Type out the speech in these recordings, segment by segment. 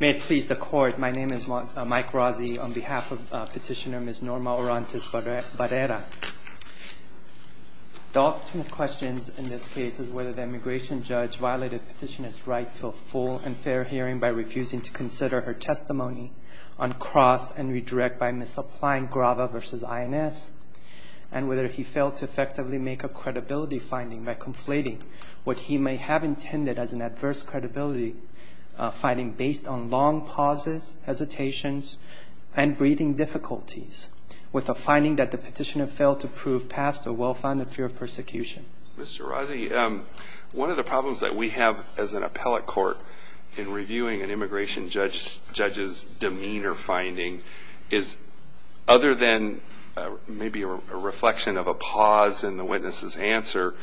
May it please the Court, my name is Mike Rossi on behalf of Petitioner Ms. Norma Orantes-Barrera. The ultimate question in this case is whether the immigration judge violated the petitioner's right to a full and fair hearing by refusing to consider her testimony on cross and redirect by misapplying GRAVA v. INS, and whether he failed to effectively make a credibility finding by conflating what he may have intended as an adverse credibility finding based on long pauses, hesitations, and breathing difficulties with a finding that the petitioner failed to prove past a well-founded fear of persecution. Mr. Rossi, one of the problems that we have as an appellate court in reviewing an immigration judge's demeanor finding is, other than maybe a reflection of a pause in the witness's answer,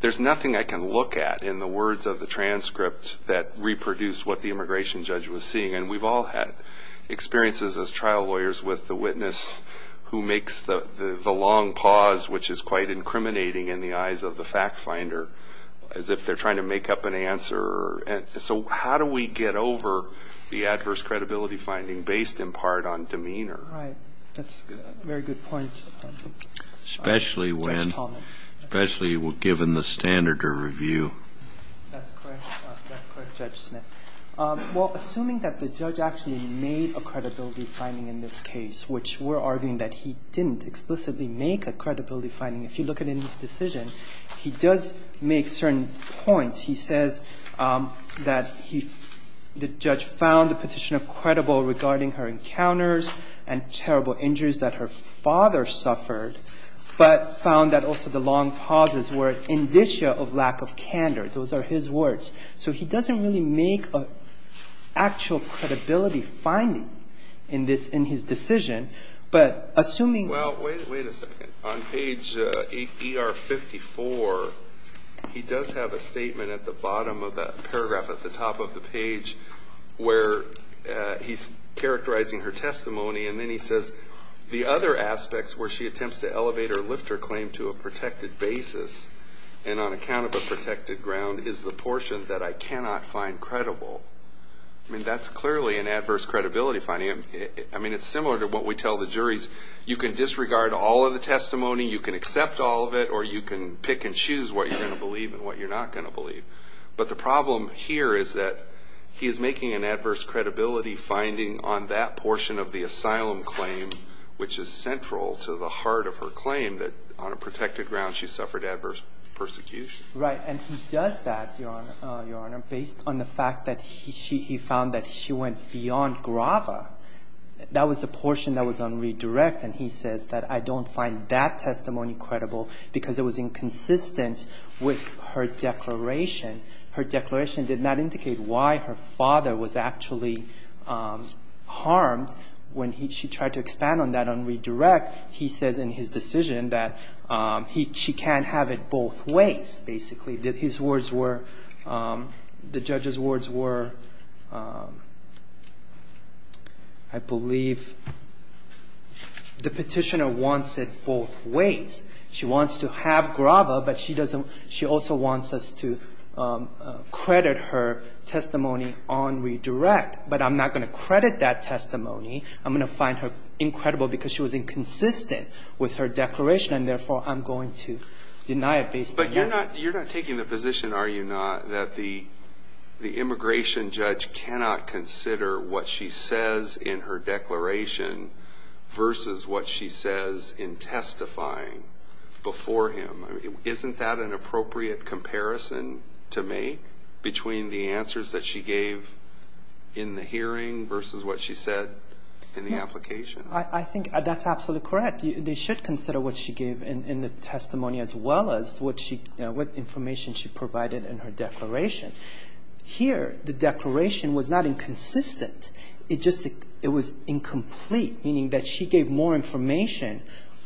there's nothing I can look at in the words of the transcript that reproduce what the immigration judge was seeing. And we've all had experiences as trial lawyers with the witness who makes the long pause, which is quite incriminating in the eyes of the fact finder, as if they're trying to make up an answer. And so how do we get over the adverse credibility finding based in part on demeanor? Right. That's a very good point. Especially when, especially given the standard of review. That's correct. That's correct, Judge Smith. Well, assuming that the judge actually made a credibility finding in this case, which we're arguing that he didn't explicitly make a credibility finding. If you look at it in his decision, he does make certain points. He says that he, the judge found the petitioner credible regarding her encounters and terrible injuries that her father suffered, but found that also the long pauses were an indicia of lack of candor. Those are his words. So he doesn't really make an actual credibility finding in this, in his decision. But assuming. Well, wait a second. On page 8ER54, he does have a statement at the bottom of that paragraph at the top of the page where he's characterizing her testimony. And then he says, the other aspects where she attempts to elevate or lift her claim to a protected basis and on account of a protected ground is the portion that I cannot find credible. I mean, that's clearly an adverse credibility finding. I mean, it's similar to what we tell the juries. You can disregard all of the testimony, you can accept all of it, or you can pick and choose what you're going to believe and what you're not going to believe. But the problem here is that he is making an adverse credibility finding on that portion of the asylum claim, which is central to the heart of her claim that on a protected ground she suffered adverse persecution. Right. And he does that, Your Honor, based on the fact that he found that she went beyond grava. That was the portion that was on redirect, and he says that I don't find that testimony credible because it was inconsistent with her declaration. Her declaration did not indicate why her father was actually harmed when she tried to expand on that on redirect. He says in his decision that she can't have it both ways, basically. His words were, the judge's words were, I believe the Petitioner wants it both ways. She wants to have grava, but she doesn't – she also wants us to credit her testimony on redirect. But I'm not going to credit that testimony. I'm going to find her incredible because she was inconsistent with her declaration, and therefore, I'm going to deny it based on that. You're not taking the position, are you not, that the immigration judge cannot consider what she says in her declaration versus what she says in testifying before him? Isn't that an appropriate comparison to make between the answers that she gave in the hearing versus what she said in the application? I think that's absolutely correct. In fact, they should consider what she gave in the testimony as well as what she – what information she provided in her declaration. Here, the declaration was not inconsistent. It just – it was incomplete, meaning that she gave more information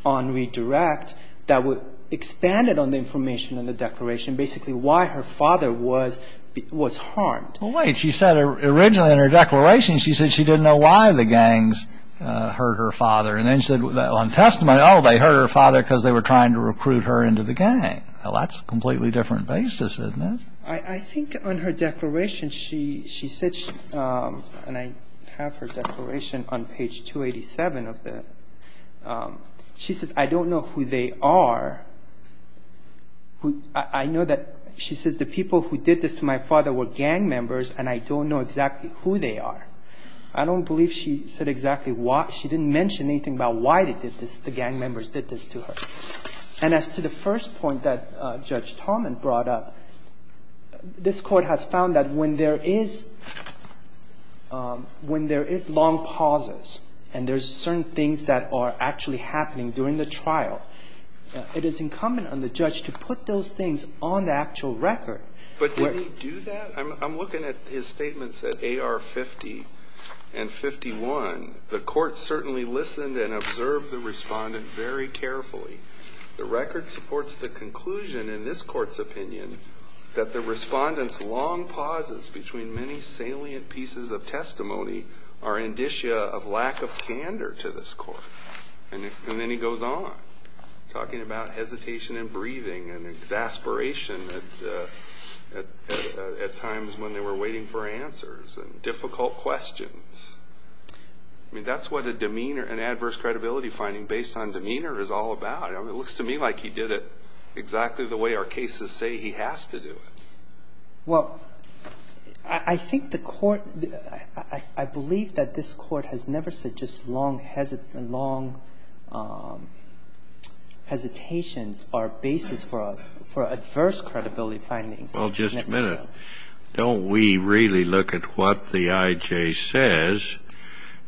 on redirect that would expand it on the information in the declaration, basically why her father was – was harmed. Well, wait. She said originally in her declaration, she said she didn't know why the gangs hurt her father. And then she said on testimony, oh, they hurt her father because they were trying to recruit her into the gang. Well, that's a completely different basis, isn't it? I think on her declaration, she said – and I have her declaration on page 287 of the – she says, I don't know who they are. I know that she says the people who did this to my father were gang members, and I don't know exactly who they are. I don't believe she said exactly why. She didn't mention anything about why they did this, the gang members did this to her. And as to the first point that Judge Talman brought up, this Court has found that when there is – when there is long pauses and there's certain things that are actually happening during the trial, it is incumbent on the judge to put those things on the actual record. But did he do that? I'm looking at his statements at AR 50 and 51. The Court certainly listened and observed the Respondent very carefully. The record supports the conclusion in this Court's opinion that the Respondent's long pauses between many salient pieces of testimony are indicia of lack of candor to this Court. And then he goes on, talking about hesitation in breathing and exasperation at times when they were waiting for answers and difficult questions. I mean, that's what a demeanor – an adverse credibility finding based on demeanor is all about. It looks to me like he did it exactly the way our cases say he has to do it. Well, I think the Court – I believe that this Court has never said just long hesitations are basis for adverse credibility finding. Well, just a minute. Don't we really look at what the I.J. says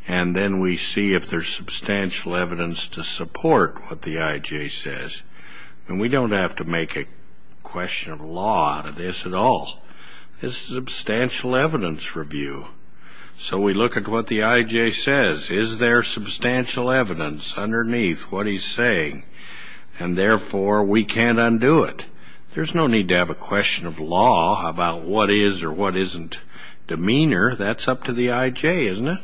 and then we see if there's substantial evidence to support what the I.J. says? I mean, we don't have to make a question of law out of this at all. This is a substantial evidence review. So we look at what the I.J. says. Is there substantial evidence underneath what he's saying? And therefore, we can't undo it. There's no need to have a question of law about what is or what isn't demeanor. That's up to the I.J., isn't it?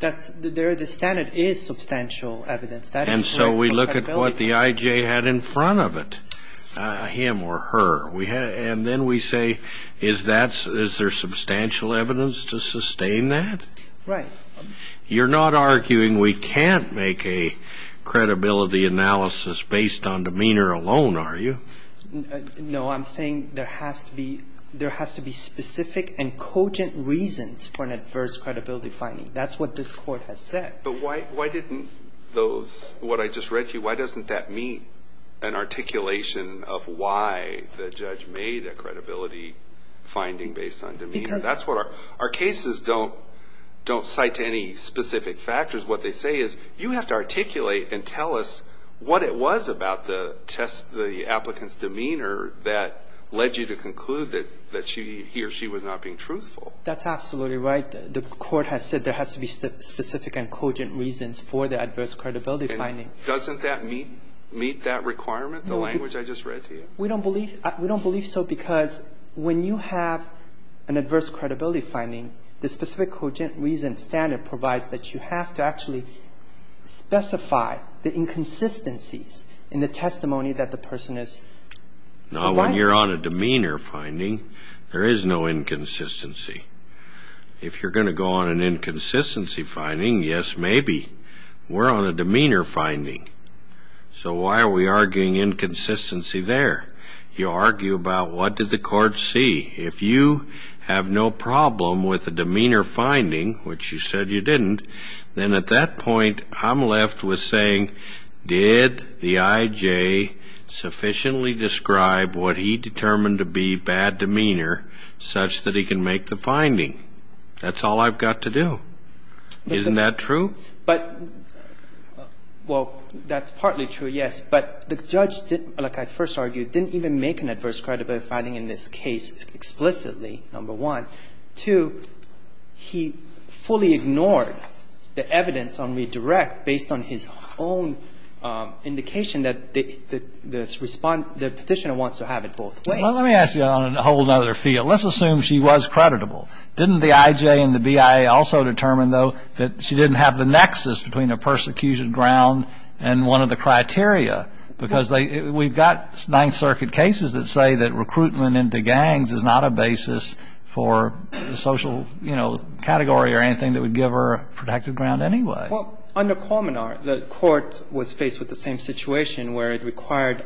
The standard is substantial evidence. And so we look at what the I.J. had in front of it, him or her. And then we say, is there substantial evidence to sustain that? Right. You're not arguing we can't make a credibility analysis based on demeanor alone, are you? No, I'm saying there has to be specific and cogent reasons for an adverse credibility finding. That's what this Court has said. But why didn't those, what I just read to you, why doesn't that meet an articulation of why the judge made a credibility finding based on demeanor? That's what our cases don't cite to any specific factors. What they say is you have to articulate and tell us what it was about the test, the applicant's demeanor that led you to conclude that he or she was not being truthful. That's absolutely right. The Court has said there has to be specific and cogent reasons for the adverse credibility finding. Doesn't that meet that requirement, the language I just read to you? We don't believe so because when you have an adverse credibility finding, the specific cogent reason standard provides that you have to actually specify the inconsistencies in the testimony that the person is providing. Now, when you're on a demeanor finding, there is no inconsistency. If you're going to go on an inconsistency finding, yes, maybe. We're on a demeanor finding. So why are we arguing inconsistency there? You argue about what did the court see. If you have no problem with a demeanor finding, which you said you didn't, then at that point I'm left with saying, did the IJ sufficiently describe what he determined to be bad demeanor such that he can make the finding? That's all I've got to do. Isn't that true? But, well, that's partly true, yes. But the judge, like I first argued, didn't even make an adverse credibility finding in this case explicitly, number one. Two, he fully ignored the evidence on redirect based on his own indication that the defendant had a bad demeanor finding. And, well, let me ask you on a whole other field. Let's assume she was creditable. Didn't the IJ and the BIA also determine, though, that she didn't have the nexus between a persecution ground and one of the criteria? Because we've got Ninth Circuit cases that say that recruitment into gangs is not a basis for the social, you know, category or anything that would give her a protected ground anyway. Well, under Colmenar, the Court was faced with the same situation where it required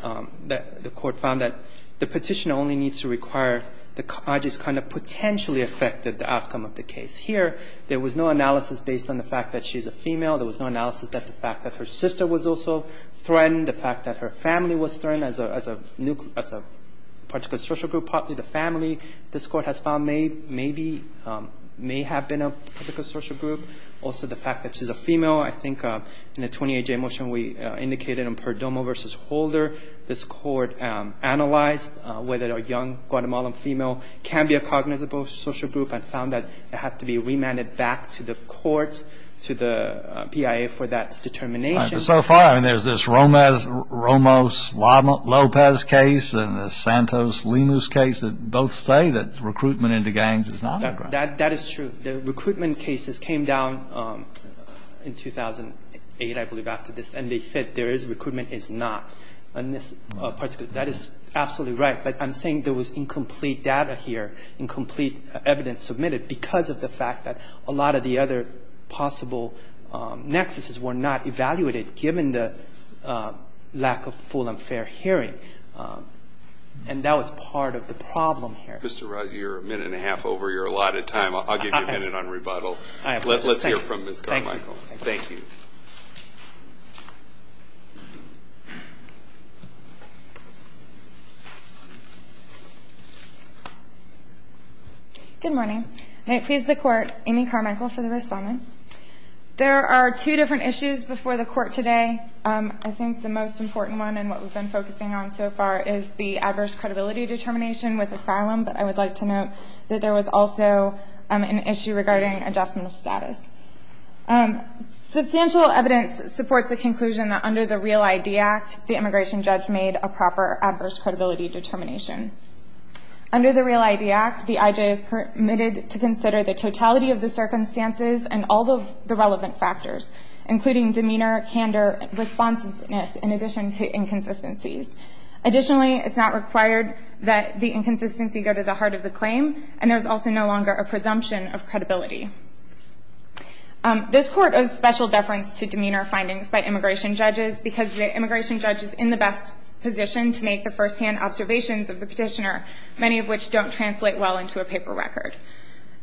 that the Court found that the Petitioner only needs to require the IJs kind of potentially affect the outcome of the case. Here, there was no analysis based on the fact that she's a female. There was no analysis that the fact that her sister was also threatened, the fact that her family was threatened as a particular social group, partly the family this Court has found may be, may have been a particular social group. Also, the fact that she's a female. I think in the 28-day motion we indicated in Perdomo v. Holder, this Court analyzed whether a young Guatemalan female can be a cognizable social group and found that it had to be remanded back to the court, to the BIA for that determination. All right. But so far, I mean, there's this Romos-Lopez case and the Santos-Lemus case that both say that recruitment into gangs is not a ground. That is true. The recruitment cases came down in 2008, I believe, after this. And they said there is recruitment, it's not. And that is absolutely right. But I'm saying there was incomplete data here, incomplete evidence submitted because of the fact that a lot of the other possible nexuses were not evaluated given the lack of full and fair hearing. And that was part of the problem here. Thank you, Mr. Ross. You're a minute and a half over your allotted time. I'll give you a minute on rebuttal. Let's hear from Ms. Carmichael. Thank you. Good morning. May it please the Court, Amy Carmichael for the respondent. There are two different issues before the Court today. I think the most important one and what we've been focusing on so far is the adverse credibility determination with asylum. But I would like to note that there was also an issue regarding adjustment of status. Substantial evidence supports the conclusion that under the REAL-ID Act, the immigration judge made a proper adverse credibility determination. Under the REAL-ID Act, the IJ is permitted to consider the totality of the circumstances and all of the relevant factors, including demeanor, candor, responsiveness, in addition to inconsistencies. Additionally, it's not required that the inconsistency go to the heart of the claim, and there's also no longer a presumption of credibility. This Court owes special deference to demeanor findings by immigration judges because the immigration judge is in the best position to make the firsthand observations of the petitioner, many of which don't translate well into a paper record.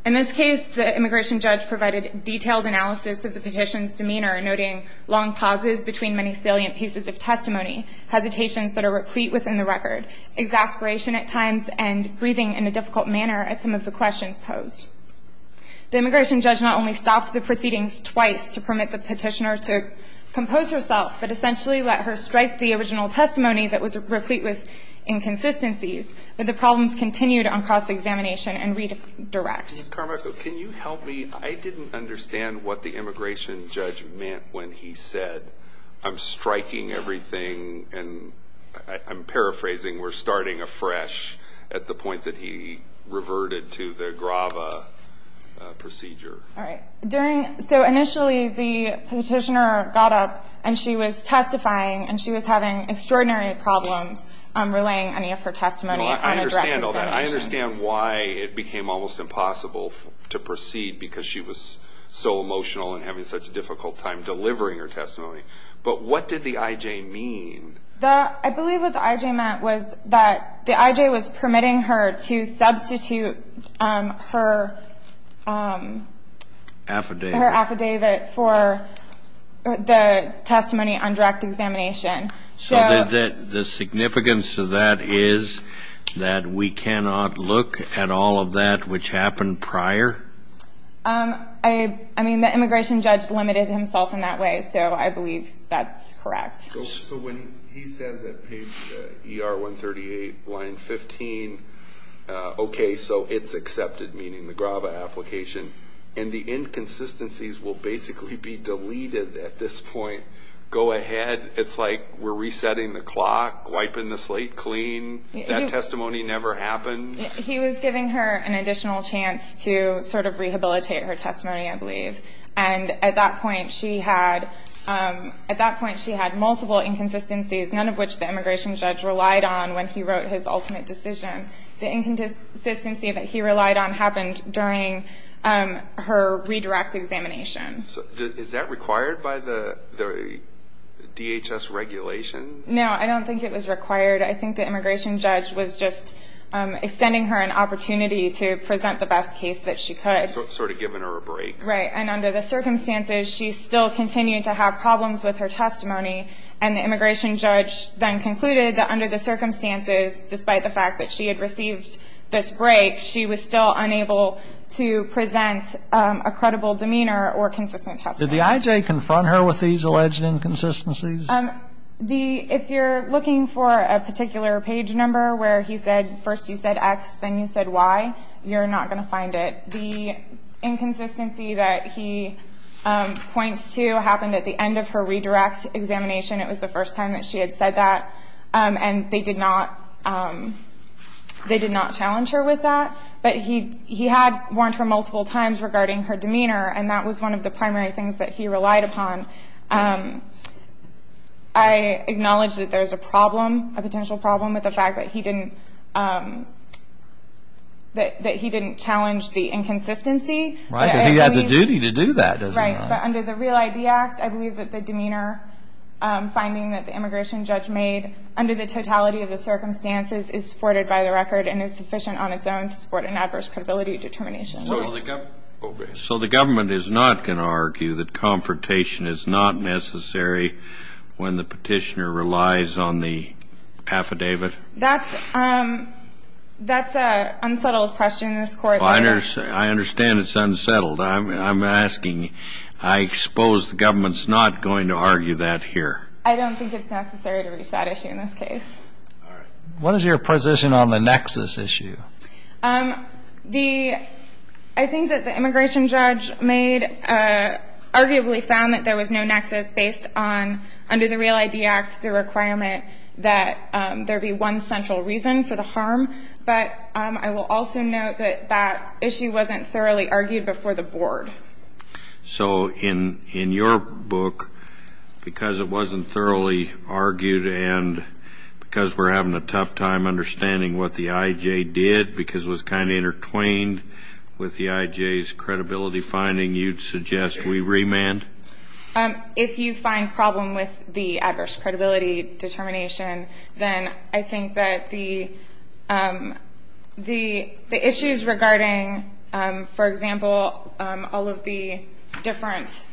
In this case, the immigration judge provided detailed analysis of the petitioner's demeanor, noting long pauses between many salient pieces of testimony, hesitations that are replete within the record, exasperation at times, and breathing in a difficult manner at some of the questions posed. The immigration judge not only stopped the proceedings twice to permit the petitioner to compose herself, but essentially let her strike the original testimony that was replete with inconsistencies. But the problems continued on cross-examination and redirect. Ms. Carmichael, can you help me? I didn't understand what the immigration judge meant when he said, I'm striking everything, and I'm paraphrasing, we're starting afresh at the point that he reverted to the grava procedure. All right. So initially the petitioner got up and she was testifying, and she was having extraordinary problems relaying any of her testimony. I understand all that. I understand why it became almost impossible to proceed because she was so emotional and having such a difficult time delivering her testimony. But what did the I.J. mean? I believe what the I.J. meant was that the I.J. was permitting her to substitute her affidavit for the testimony on direct examination. So the significance of that is that we cannot look at all of that which happened prior? I mean, the immigration judge limited himself in that way, so I believe that's correct. So when he says at page ER 138, line 15, okay, so it's accepted, meaning the grava application, and the inconsistencies will basically be deleted at this point. Go ahead. It's like we're resetting the clock, wiping the slate clean. That testimony never happened. He was giving her an additional chance to sort of rehabilitate her testimony, I believe. And at that point she had multiple inconsistencies, none of which the immigration judge relied on when he wrote his ultimate decision. The inconsistency that he relied on happened during her redirect examination. Is that required by the DHS regulation? No, I don't think it was required. I think the immigration judge was just extending her an opportunity to present the best case that she could. Sort of giving her a break. Right. And under the circumstances, she still continued to have problems with her testimony, and the immigration judge then concluded that under the circumstances, despite the fact that she had received this break, she was still unable to present a credible demeanor or consistent testimony. Did the I.J. confront her with these alleged inconsistencies? The ‑‑ if you're looking for a particular page number where he said first you said X, then you said Y, you're not going to find it. The inconsistency that he points to happened at the end of her redirect examination. It was the first time that she had said that. And they did not challenge her with that. But he had warned her multiple times regarding her demeanor, and that was one of the primary things that he relied upon. I acknowledge that there's a problem, a potential problem, with the fact that he didn't challenge the inconsistency. Right, because he has a duty to do that, doesn't he? Right. But under the Real ID Act, I believe that the demeanor finding that the immigration judge made under the totality of the circumstances is supported by the record and is sufficient on its own to support an adverse credibility determination. Right. So the government is not going to argue that confrontation is not necessary when the petitioner relies on the affidavit? That's an unsettled question in this Court. I understand it's unsettled. I'm asking. I suppose the government's not going to argue that here. I don't think it's necessary to reach that issue in this case. All right. What is your position on the nexus issue? The ‑‑ I think that the immigration judge made, arguably found that there was no nexus based on, under the Real ID Act, the requirement that there be one central reason for the harm, but I will also note that that issue wasn't thoroughly argued before the Board. So in your book, because it wasn't thoroughly argued and because we're having a tough time understanding what the IJ did because it was kind of intertwined with the IJ's credibility finding, you'd suggest we remand? If you find problem with the adverse credibility determination, then I think that the issues regarding, for example, all of the different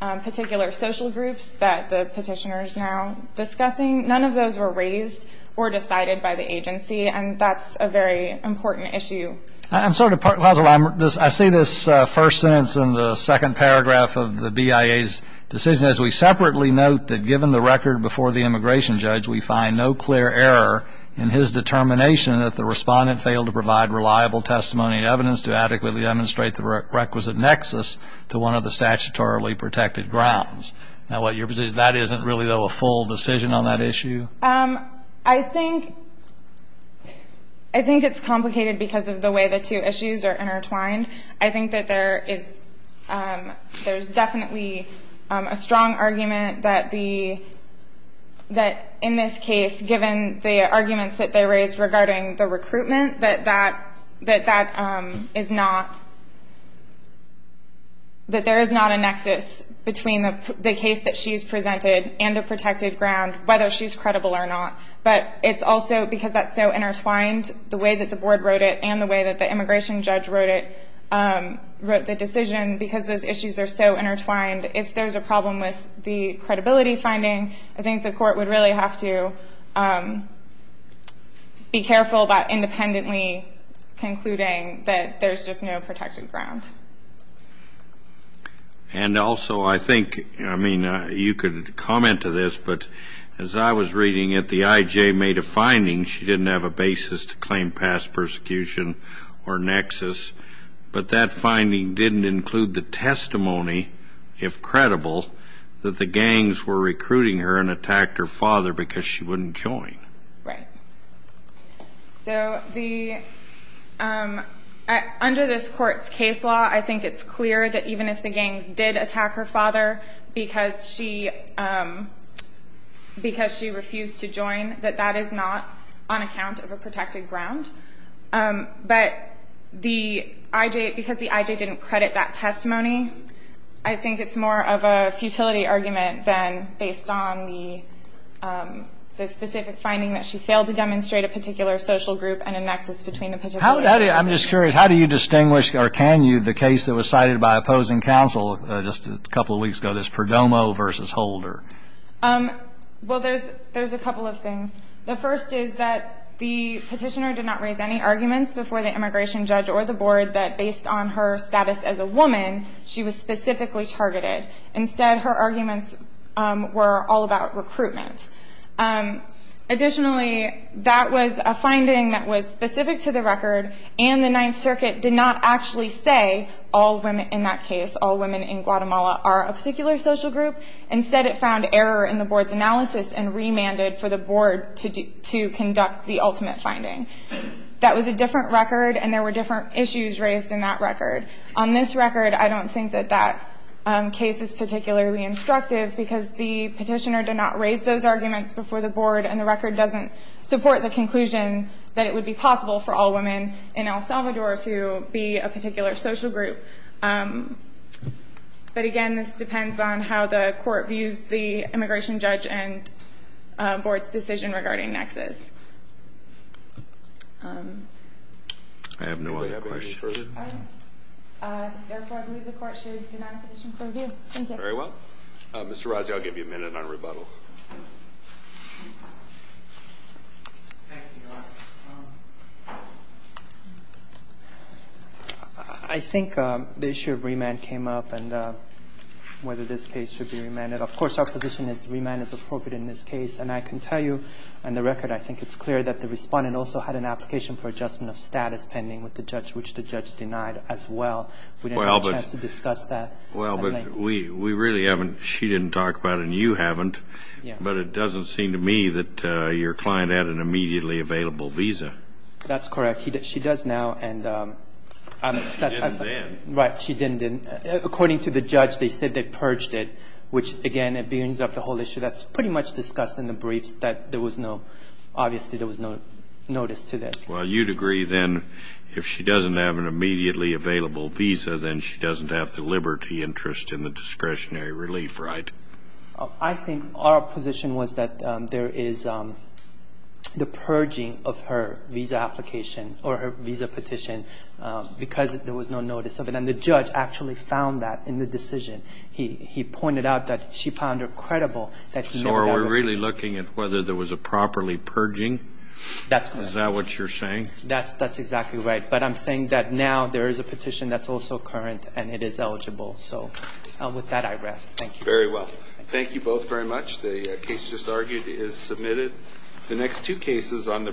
particular social groups that the petitioner is now discussing, none of those were raised or decided by the agency, and that's a very important issue. I see this first sentence in the second paragraph of the BIA's decision as we separately note that given the record before the immigration judge, we find no clear error in his determination that the respondent failed to provide reliable testimony and evidence to adequately demonstrate the requisite nexus to one of the statutorily protected grounds. Now, what, your position is that isn't really, though, a full decision on that issue? I think it's complicated because of the way the two issues are intertwined. I think that there is definitely a strong argument that in this case, given the arguments that they raised regarding the recruitment, that that is not, that there is not a nexus between the case that she's presented and a protected ground, whether she's credible or not. But it's also because that's so intertwined, the way that the board wrote it and the way that the immigration judge wrote it, wrote the decision, because those issues are so intertwined. If there's a problem with the credibility finding, I think the court would really have to be careful about independently concluding that there's just no protected ground. And also, I think, I mean, you could comment to this, but as I was reading it, the IJ made a finding. She didn't have a basis to claim past persecution or nexus, but that finding didn't include the testimony, if credible, that the gangs were recruiting her and attacked her father because she wouldn't join. Right. So the under this court's case law, I think it's clear that even if the gangs did attack her father because she refused to join, that that is not on account of a protected ground. But the IJ, because the IJ didn't credit that testimony, I think it's more of a futility argument than based on the specific finding that she failed to demonstrate a particular social group and a nexus between the particular groups. I'm just curious, how do you distinguish, or can you, the case that was cited by opposing counsel just a couple of weeks ago, this Perdomo v. Holder? Well, there's a couple of things. The first is that the petitioner did not raise any arguments before the immigration judge or the board that based on her status as a woman, she was specifically targeted. Instead, her arguments were all about recruitment. Additionally, that was a finding that was specific to the record, and the Ninth Circuit did not actually say all women in that case, all women in Guatemala are a particular social group. Instead, it found error in the board's analysis and remanded for the board to conduct the ultimate finding. That was a different record, and there were different issues raised in that record. On this record, I don't think that that case is particularly instructive because the petitioner did not raise those arguments before the board, and the record doesn't support the conclusion that it would be possible for all women in El Salvador to be a particular social group. But, again, this depends on how the court views the immigration judge and board's decision regarding nexus. I have no other questions. All right. Therefore, I believe the court should deny the petition for review. Thank you. Very well. Mr. Rossi, I'll give you a minute on rebuttal. Thank you, Your Honor. I think the issue of remand came up and whether this case should be remanded. Of course, our position is remand is appropriate in this case, and I can tell you on the record I think it's clear that the Respondent also had an application for adjustment of status pending with the judge, which the judge denied as well. We didn't have a chance to discuss that. Well, but we really haven't. She didn't talk about it and you haven't. But it doesn't seem to me that your client had an immediately available visa. That's correct. She does now. She didn't then. Right. She didn't then. According to the judge, they said they purged it, which, again, it brings up the whole issue that's pretty much discussed in the briefs, that there was no – obviously there was no notice to this. Well, you'd agree then if she doesn't have an immediately available visa, then she doesn't have the liberty, interest, and the discretionary relief, right? I think our position was that there is the purging of her visa application or her visa petition because there was no notice of it. And the judge actually found that in the decision. He pointed out that she found her credible. So are we really looking at whether there was a properly purging? That's correct. Is that what you're saying? That's exactly right. But I'm saying that now there is a petition that's also current, and it is eligible. So with that, I rest. Thank you. Very well. Thank you both very much. The case just argued is submitted. The next two cases on the briefs will be submitted.